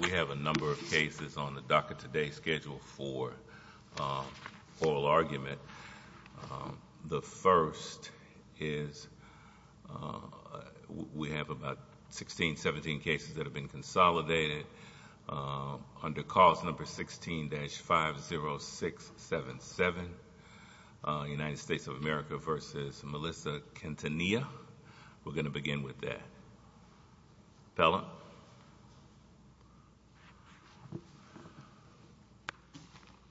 We have a number of cases on the DACA Today schedule for oral argument. The first is we have about 16, 17 cases that have been consolidated under clause number 16-50677, United States of America v. Melissa Quintanilla. We're going to begin with that.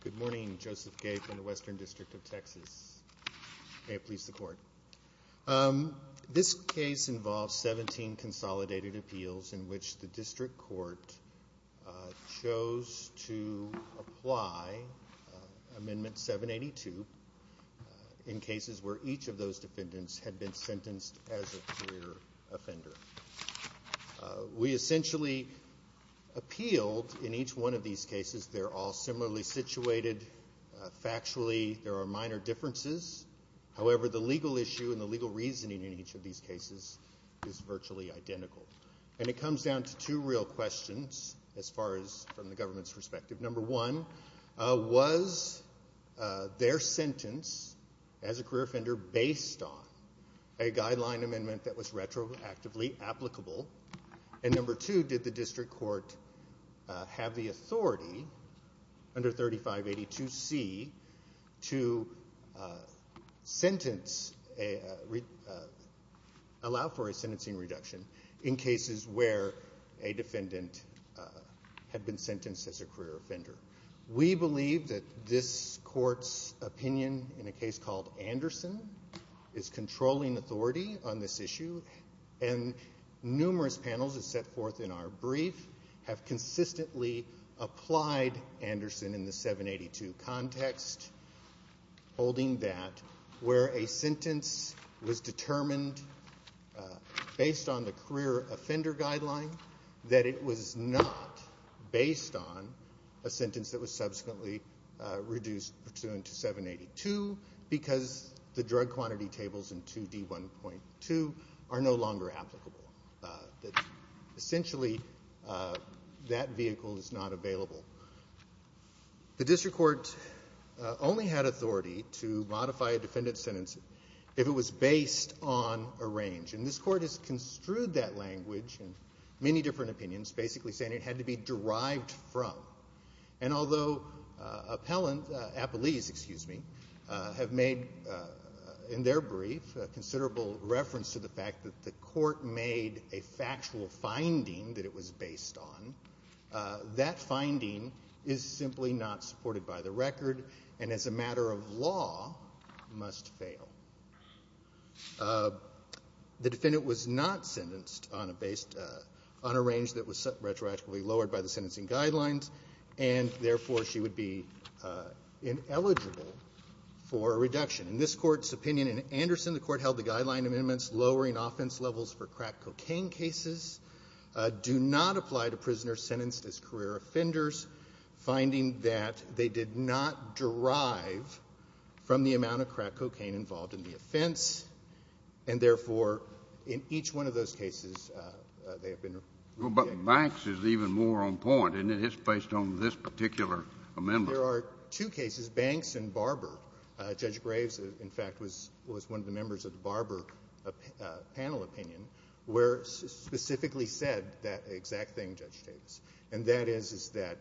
Good morning. Joseph Gay from the Western District of Texas. May it please the Court. This case involves 17 consolidated appeals in which the District Court chose to apply for Amendment 782 in cases where each of those defendants had been sentenced as a clear offender. We essentially appealed in each one of these cases. They're all similarly situated. Factually, there are minor differences. However, the legal issue and the legal reasoning in each of these cases is virtually identical. And it comes down to two real questions as far as from the government's perspective. Number one, was their sentence as a clear offender based on a guideline amendment that was retroactively applicable? And number two, did the District Court have the authority under 3582C to sentence, allow for a sentencing reduction in cases where a defendant had been sentenced as a clear offender? We believe that this Court's opinion in a case called Anderson is controlling authority on this issue. And numerous panels that set forth in our brief have consistently applied Anderson in the 782 context, holding that where a sentence was determined based on the clear offender guideline, that it was not based on a sentence that was subsequently reduced pursuant to 782 because the drug quantity tables in 2D1.2 are no longer applicable. Essentially, that vehicle is not available. The District Court only had authority to modify a defendant's sentence if it was based on a range. And this Court has construed that language in many different opinions, basically saying it had to be derived from. And although appellant, appellees, excuse me, have made in their brief a considerable reference to the fact that the Court made a factual finding that it was based on, that finding is simply not supported by the record, and as a matter of law, must fail. The defendant was not sentenced on a range that was retroactively lowered by the sentencing guidelines, and therefore she would be ineligible for a reduction. In this Court's opinion in Anderson, the Court held the guideline amendments lowering offense levels for crack cocaine cases do not apply to prisoners sentenced as career offenders, finding that they did not derive from the amount of crack cocaine involved in the offense, and therefore, in each one of those cases, they have been rejected. But Banks is even more on point, isn't it? It's based on this particular amendment. There are two cases, Banks and Barber. Judge Graves, in fact, was one of the members of the Barber panel opinion, where it specifically said that exact thing Judge States, and that is that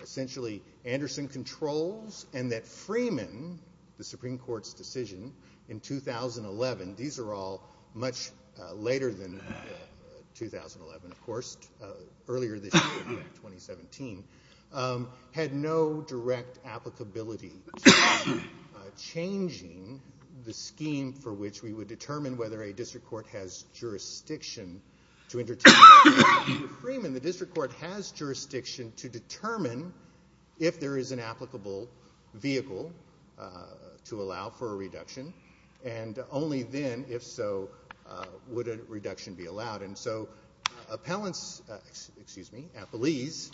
essentially Anderson controls, and that Freeman, the Supreme Court's decision in 2011, these are all much later than 2011, of course, earlier this year, 2017, had no direct applicability to changing the scheme for which we would determine whether a district court has jurisdiction to entertain a reduction. For Freeman, the district court has jurisdiction to determine if there is an applicable vehicle to allow for a reduction, and only then, if so, would a reduction be allowed. And so appellants, excuse me, appellees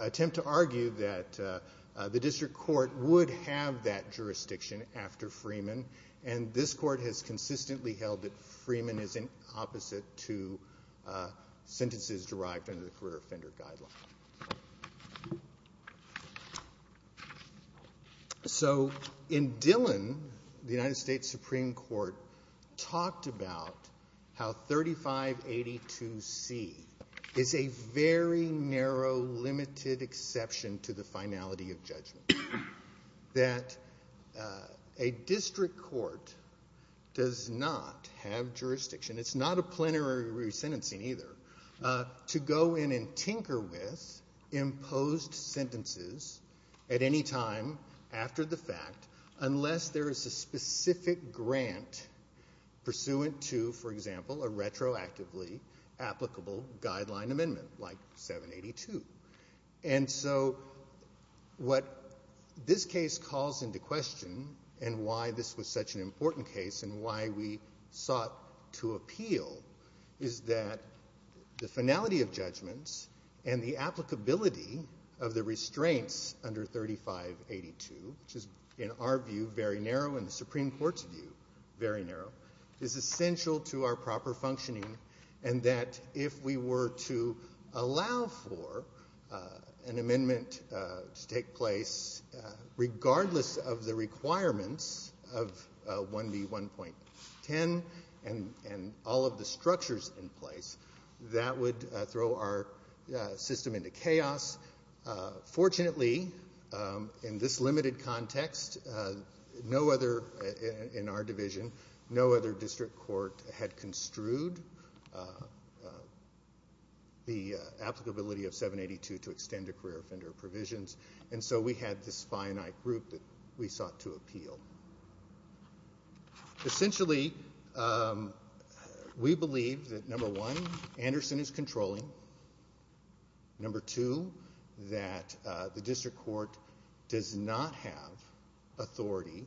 attempt to argue that the district court would have that jurisdiction after Freeman, and this court has consistently held that Freeman is in opposite to sentences derived under the career offender guideline. So, in Dillon, the United States Supreme Court talked about how 3582C is a very narrow, limited exception to the finality of judgment, that a district court does not have jurisdiction, it's not a plenary re-sentencing either, to go in and tinker with imposed sentences at any time after the fact, unless there is a specific grant pursuant to, for example, a retroactively applicable guideline amendment, like 782. And so, what this case calls into question, and why this was such an important case, and why we sought to appeal, is that the finality of judgments, and the applicability of the restraints under 3582, which is, in our view, very narrow, and the Supreme Court's view, very narrow, is essential to our proper the requirements of 1B1.10, and all of the structures in place, that would throw our system into chaos. Fortunately, in this limited context, no other, in our division, no other district court had construed the applicability of 782 to extend a career offender provisions, and so we had this finite group that we sought to appeal. Essentially, we believe that, number one, Anderson is controlling, number two, that the district court does not have authority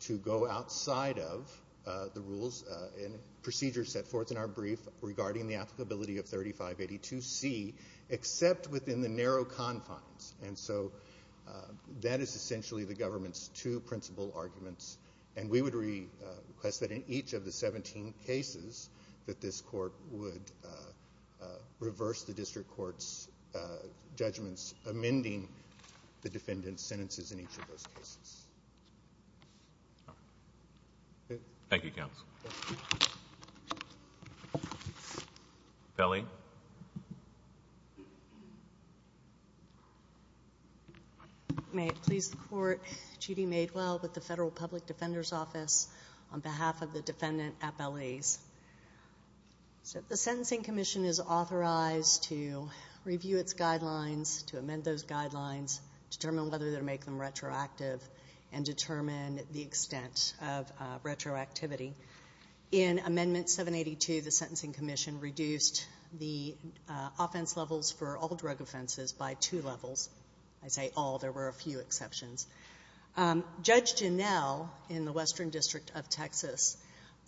to go outside of the rules and procedures set forth in our brief regarding the applicability of 3582C, except within the narrow confines. And so, that is essentially the government's two principle arguments, and we would request that in each of the 17 cases, that this court would reverse the district court's judgments, amending the defendant's sentences in each of those cases. Thank you, counsel. Pelley? May it please the Court, Judy Maidwell, with the Federal Public Defender's Office, on behalf of the defendant, Appellees. The Sentencing Commission is authorized to review its guidelines, to amend those guidelines, determine whether to make them retroactive, and determine the extent of retroactivity. In Amendment 782, the Sentencing Commission reduced the offense levels for all drug offenses by two levels. I say all, there were a few exceptions. Judge Janell, in the Western District of Texas,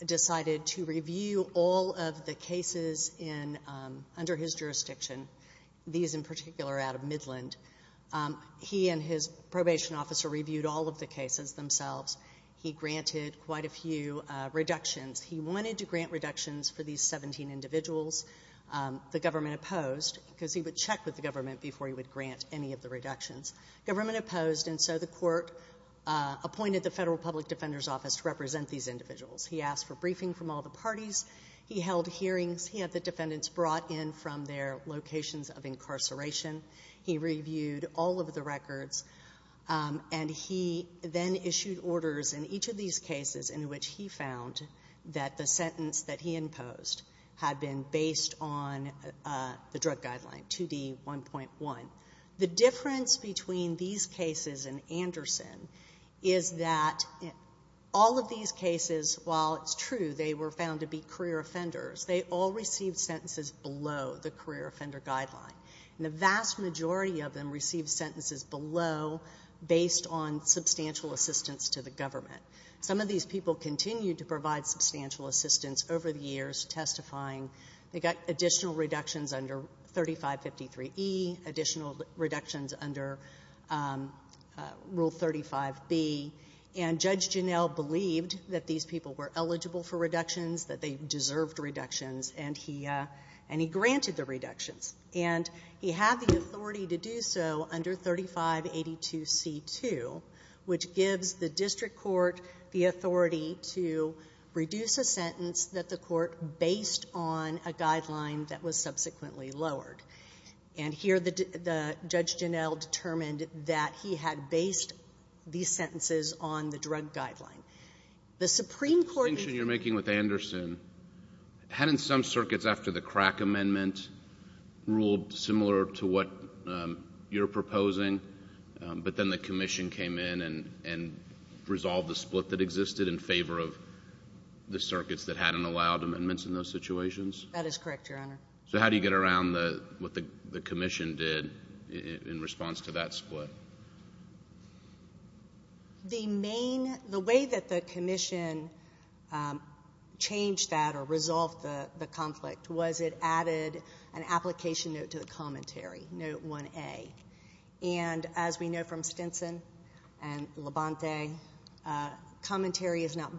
decided to review all of the cases in, under his jurisdiction, these in particular out of Midland. He and his probation officer reviewed all of the cases themselves. He granted quite a few reductions. He wanted to grant reductions for these 17 individuals. The government opposed, because he would check with the government before he would grant any of the reductions. Government opposed, and so the court appointed the Federal Public Defender's Office to represent these individuals. He asked for briefing from all the parties. He held hearings. He had the defendants brought in from their locations of incarceration. He reviewed all of the records, and he then issued orders in each of these cases in which he found that the sentence that he imposed had been based on the drug guideline, 2D1.1. The difference between these cases and Anderson is that all of these cases, while it's true they were found to be career offenders, they all received sentences below the career offender guideline. The vast majority of them received sentences below based on substantial assistance to the government. Some of these people continued to provide substantial assistance over the years, testifying. They got additional reductions under 3553E, additional reductions under Rule 35B, and Judge Janel believed that these people were eligible for reductions, that they deserved reductions, and he granted the reductions. He had the authority to do so under 3582C2, which gives the district court the authority to reduce a sentence that the court based on a guideline that was subsequently lowered. Here, Judge Janel determined that he had based these sentences on the drug guideline. The Supreme Court... The distinction you're making with Anderson, hadn't some circuits after the crack amendment ruled similar to what you're proposing, but then the commission came in and resolved the split that existed in favor of the circuits that hadn't allowed amendments in those situations? That is correct, Your Honor. So how do you get around what the commission did in response to that split? The way that the commission changed that or resolved the conflict was it added an application note to the commentary, Note 1A, and as we know from Stinson and Labonte, commentary is not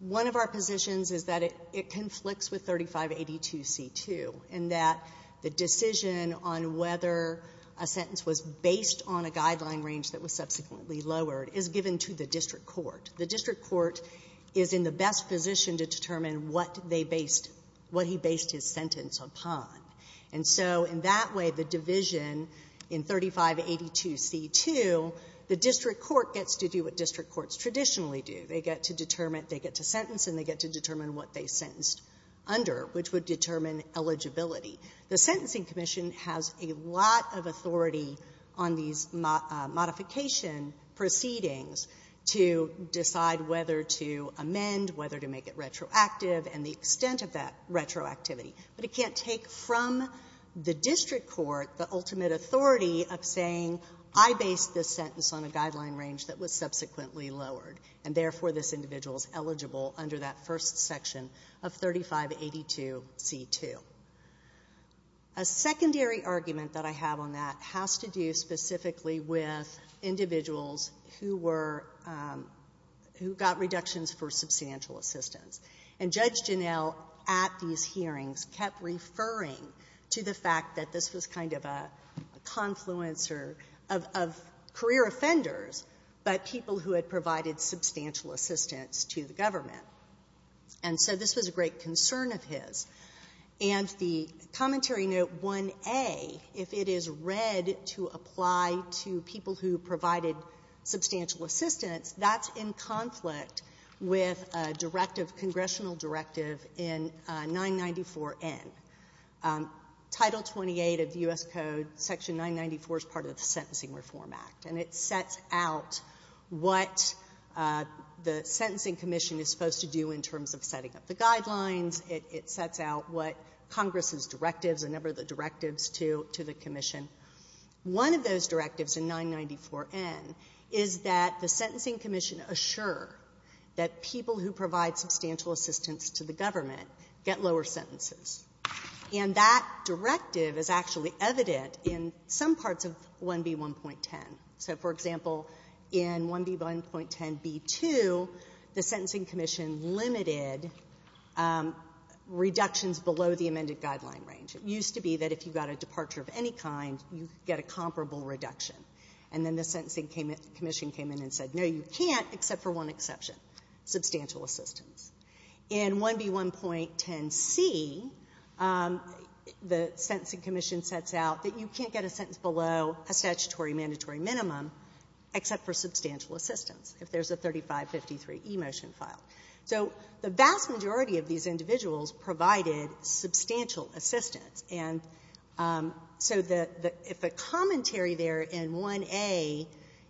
One of our positions is that it conflicts with 3582C2 in that the decision on whether a sentence was based on a guideline range that was subsequently lowered is given to the district court. The district court is in the best position to determine what they based, what he based his sentence upon, and so in that way, the division in 3582C2, the district court gets to do what they get to determine what they sentenced under, which would determine eligibility. The Sentencing Commission has a lot of authority on these modification proceedings to decide whether to amend, whether to make it retroactive, and the extent of that retroactivity, but it can't take from the district court the ultimate authority of saying, I based this sentence on a guideline range that was subsequently lowered, and therefore, this individual is eligible under that first section of 3582C2. A secondary argument that I have on that has to do specifically with individuals who were, who got reductions for substantial assistance, and Judge Janell at these hearings kept referring to the fact that this was kind of a confluence of career offenders but people who had provided substantial assistance to the government, and so this was a great concern of his, and the Commentary Note 1A, if it is read to apply to people who provided substantial assistance, that's in conflict with a directive, congressional directive in 994N. Title 28 of the what the Sentencing Commission is supposed to do in terms of setting up the guidelines, it sets out what Congress's directives, a number of the directives to the Commission. One of those directives in 994N is that the Sentencing Commission assure that people who provide substantial assistance to the government get lower sentences, and that directive is actually evident in some parts of 1B1.10. So, for example, in 1B1.10B2, the Sentencing Commission limited reductions below the amended guideline range. It used to be that if you got a departure of any kind, you get a comparable reduction, and then the Sentencing Commission came in and said, no, you can't except for one exception, substantial assistance. In 1B1.10C, the Sentencing Commission sets out that you can't get a sentence below a statutory mandatory minimum except for substantial assistance, if there's a 3553e motion file. So the vast majority of these individuals provided substantial assistance, and so if a commentary there in 1A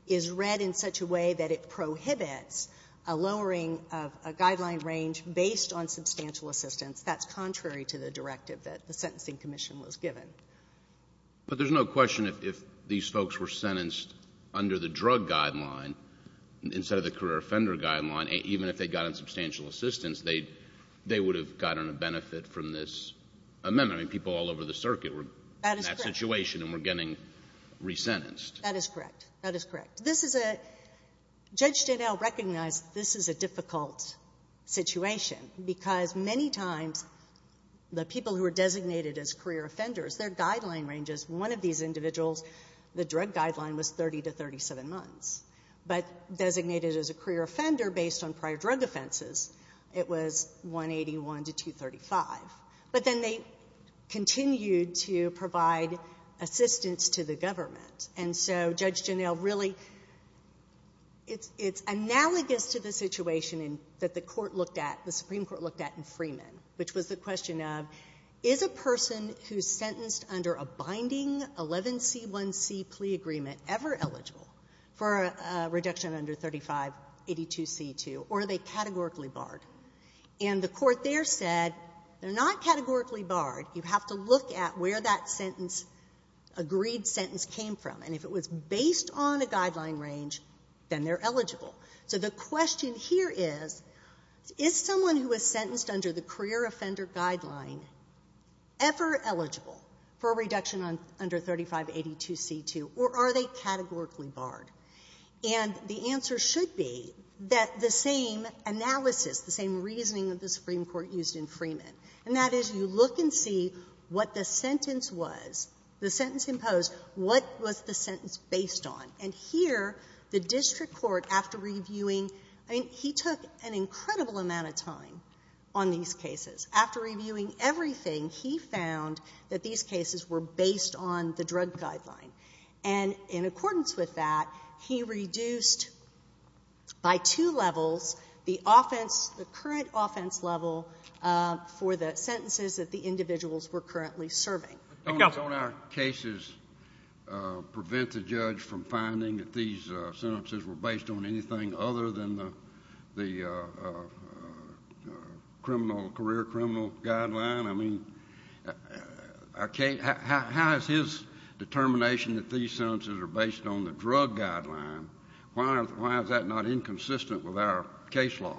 is read in such a way that it prohibits a lowering of a guideline range based on substantial assistance, that's contrary to the directive that the Sentencing Commission was given. But there's no question if these folks were sentenced under the drug guideline instead of the career offender guideline, even if they got on substantial assistance, they would have gotten a benefit from this amendment. I mean, people all over the circuit were in that situation and were getting resentenced. That is correct. That is correct. This is a—Judge Janel recognized this is a difficult situation because many times the people who are designated as career offenders, their guideline ranges—one of these individuals, the drug guideline was 30 to 37 months, but designated as a career offender based on prior drug offenses, it was 181 to 235. But then they continued to provide assistance to the government, and so Judge Janel really—it's analogous to the situation that the court looked at, the Supreme Court looked at in Freeman, which was the question of, is a person who's sentenced under a binding 11C1C plea agreement ever eligible for a reduction under 3582C2, or are they categorically barred? And the court there said, they're not categorically barred. You have to look at where that sentence—agreed sentence came from, and if it was based on a guideline range, then they're eligible. So the question here is, is someone who is sentenced under the career offender guideline ever eligible for a reduction under 3582C2, or are they categorically barred? And the answer should be that the same analysis, the same reasoning that the Supreme Court used in Freeman, and that is you look and see what the sentence was, the sentence imposed, what was the sentence based on? And here, the district court, after reviewing—I mean, he took an incredible amount of time on these cases. After reviewing everything, he found that these cases were based on the drug guideline, and in accordance with that, he reduced by two levels the offense, the current offense level for the sentences that the individuals were currently serving. Don't our cases prevent the judge from finding that these sentences were based on anything other than the career criminal guideline? I mean, how is his determination that these sentences are based on the drug guideline? Why is that not inconsistent with our case law?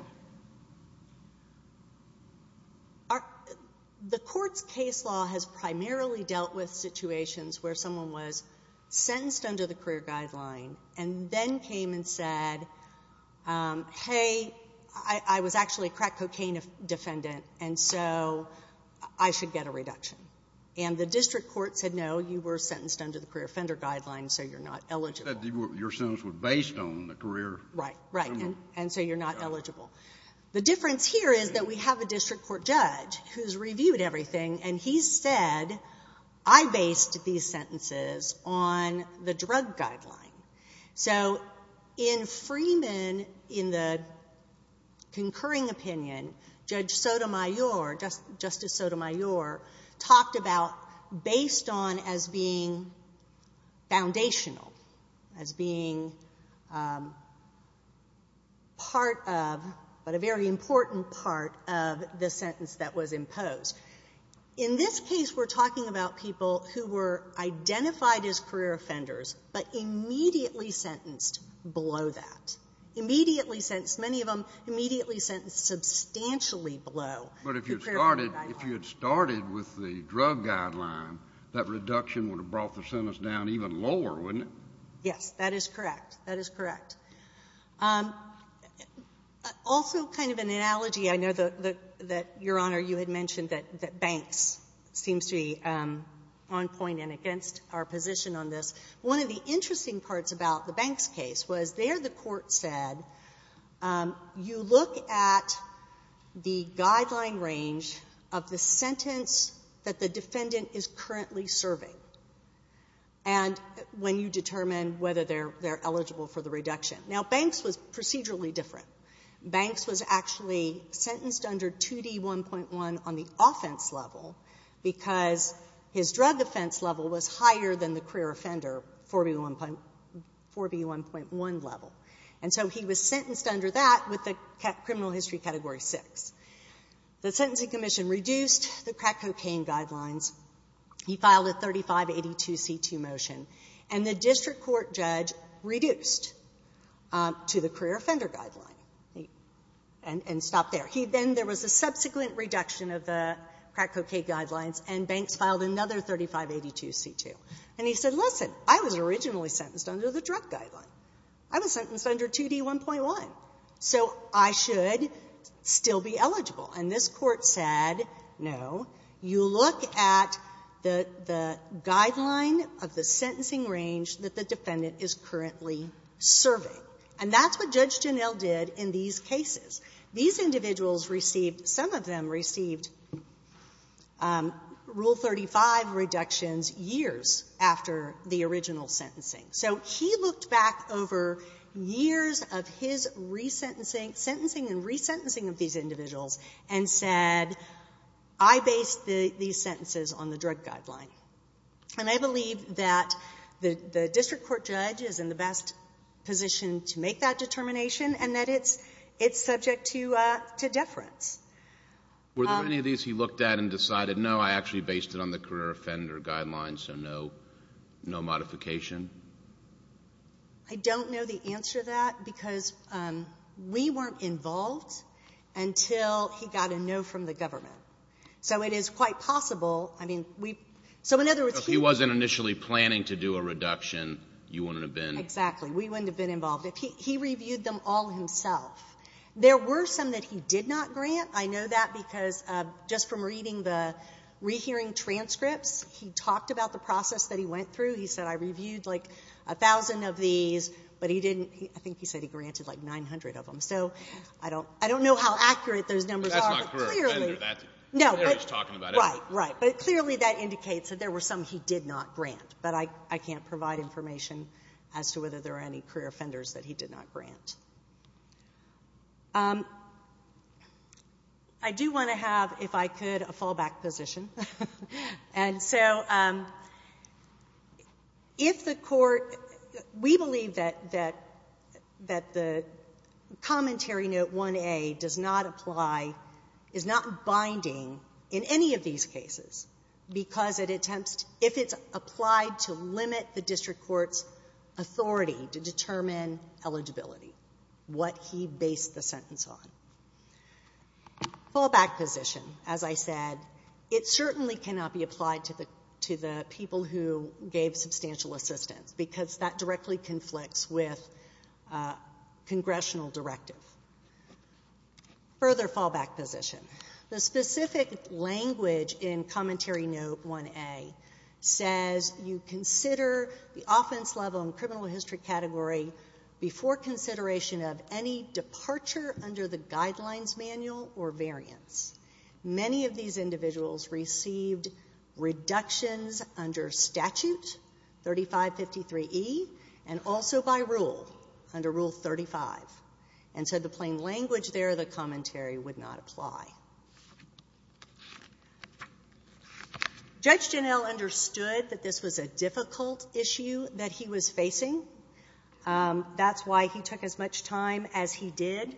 The court's case law has primarily dealt with situations where someone was saying, hey, I was actually a crack cocaine defendant, and so I should get a reduction. And the district court said, no, you were sentenced under the career offender guideline, so you're not eligible. You said your sentence was based on the career— Right, right, and so you're not eligible. The difference here is that we have a district court judge who's reviewed everything, and he said, I based these sentences on the drug guideline. So in Freeman, in the concurring opinion, Judge Sotomayor, Justice Sotomayor talked about based on as being foundational, as being part of, but a very important part of the sentence that was imposed. In this case, we're talking about people who were identified as career offenders, but immediately sentenced below that. Immediately sentenced, many of them immediately sentenced substantially below the career criminal guideline. But if you had started with the drug guideline, that reduction would have brought the sentence down even lower, wouldn't it? Yes, that is correct. That is correct. Also, kind of an analogy, I know that Your Honor, you had mentioned that banks seems to be on point and against our position on this. One of the interesting parts about the banks case was there the court said, you look at the guideline range of the sentence that the defendant is currently serving, and when you determine whether they're eligible for the reduction. Now, banks was procedurally different. Banks was actually sentenced under 2D1.1 on the offense level because his drug offense level was higher than the career offender, 4B1.1 level. And so he was sentenced under that with the criminal history category six. The sentencing commission reduced the crack cocaine guidelines. He filed a 3582C2 motion, and the district court judge reduced to the career offender guideline and stopped there. Then there was a subsequent reduction of the crack cocaine guidelines, and banks filed another 3582C2. And he said, listen, I was originally sentenced under the drug guideline. I was sentenced under 2D1.1. So I should still be eligible. And this Court said, no, you look at the guideline of the sentencing range that the defendant is currently serving. And that's what Judge Genel did in these cases. These individuals some of them received Rule 35 reductions years after the original sentencing. So he looked back over years of his resentencing, sentencing and resentencing of these individuals, and said, I based these sentences on the drug guideline. And I believe that the district court judge is the best position to make that determination, and that it's subject to deference. Were there any of these he looked at and decided, no, I actually based it on the career offender guideline, so no modification? I don't know the answer to that, because we weren't involved until he got a no from the government. So it is quite possible. So if he wasn't initially planning to do a reduction, you wouldn't have been? Exactly. We wouldn't have been involved. He reviewed them all himself. There were some that he did not grant. I know that because just from reading the rehearing transcripts, he talked about the process that he went through. He said, I reviewed like a thousand of these, but he didn't, I think he said he granted like 900 of them. So I don't know how accurate those numbers are. That's not career offender. No. They're just talking about it. Right, right. But clearly that indicates that there were some he did not grant. But I can't provide information as to whether there are any career offenders that he did not grant. I do want to have, if I could, a fallback position. And so if the court, we believe that the commentary note 1A does not apply, is not binding in any of these cases, because it attempts, if it's applied to limit the district court's authority to determine eligibility, what he based the sentence on. Fallback position, as I said, it certainly cannot be applied to the people who gave substantial assistance, because that directly conflicts with congressional directive. Further fallback position. The specific language in commentary note 1A says you consider the offense level and criminal history category before consideration of any departure under the guidelines manual or variance. Many of these individuals received reductions under statute 3553E and also by rule, under rule 35. And so the plain language there, the commentary would not apply. Judge Janel understood that this was a difficult issue that he was facing. That's why he took as much time as he did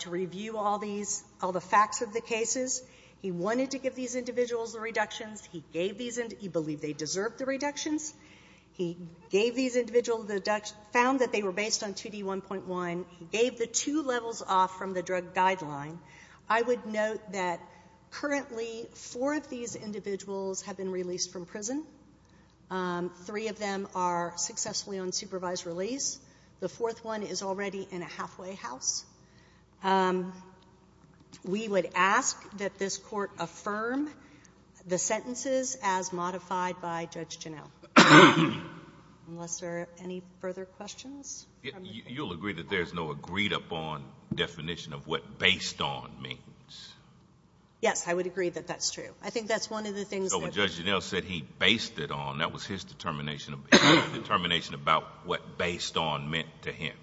to review all these, all the facts of the cases. He wanted to give these individuals the reductions. He gave these, he believed they deserved the reductions. He gave these individuals, found that they were based on 2D1.1. He gave the two levels off from the drug guideline. I would note that currently four of these individuals have been released from prison. Three of them are successfully on supervised release. The fourth one is already in a halfway house. We would ask that this court affirm the sentences as modified by Judge Janel. Unless there are any further questions? You'll agree that there's no agreed-upon definition of what based on means? Yes, I would agree that that's true. I think that's one of the things that... So when Judge Janel said he based it on, that was his determination, determination about what based on meant to him?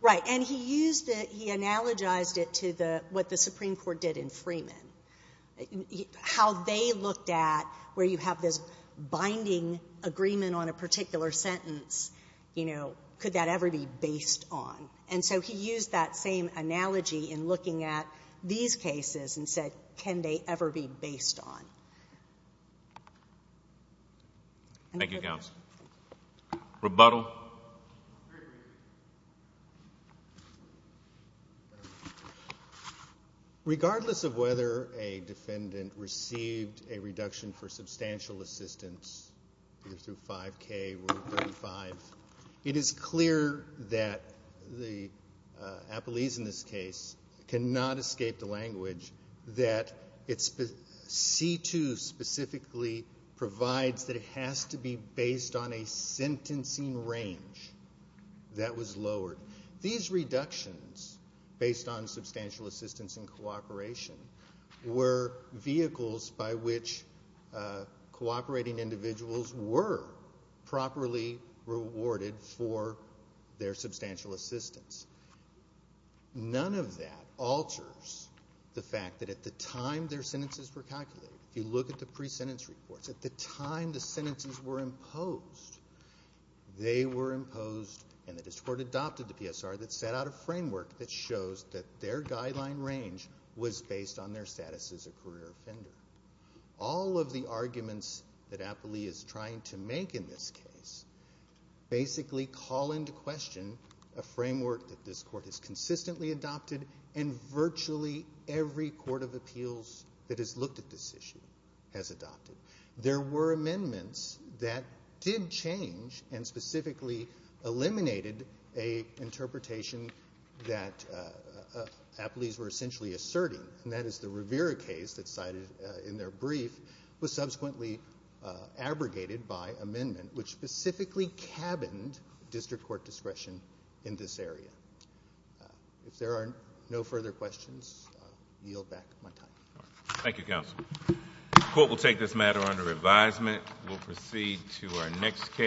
Right. And he used it, he analogized it to the, what the Supreme Court did in Freeman. How they looked at where you have this binding agreement on a particular sentence, you know, could that ever be based on? And so he used that same analogy in looking at these cases and said, can they ever be based on? Thank you, counsel. Rebuttal. Regardless of whether a defendant received a reduction for substantial assistance, either through 5K or 35, it is clear that the appellees in this case cannot escape the language that it's... C2 specifically provides that it has to be based on a sentencing range that was lowered. These reductions based on substantial assistance and cooperation were vehicles by which cooperating individuals were properly rewarded for their substantial assistance. None of that alters the fact that at the time their sentences were calculated, if you look at the pre-sentence reports, at the time the sentences were imposed, they were imposed and the district court adopted the PSR that set out a framework that shows that their guideline range was based on their status as a career offender. All of the arguments that a framework that this court has consistently adopted and virtually every court of appeals that has looked at this issue has adopted. There were amendments that did change and specifically eliminated a interpretation that appellees were essentially asserting, and that is the Rivera case that's cited in their brief was subsequently abrogated by amendment, which specifically cabined district court discretion in this area. If there are no further questions, yield back my time. Thank you, counsel. The court will take this matter under advisement. We'll proceed to our next case.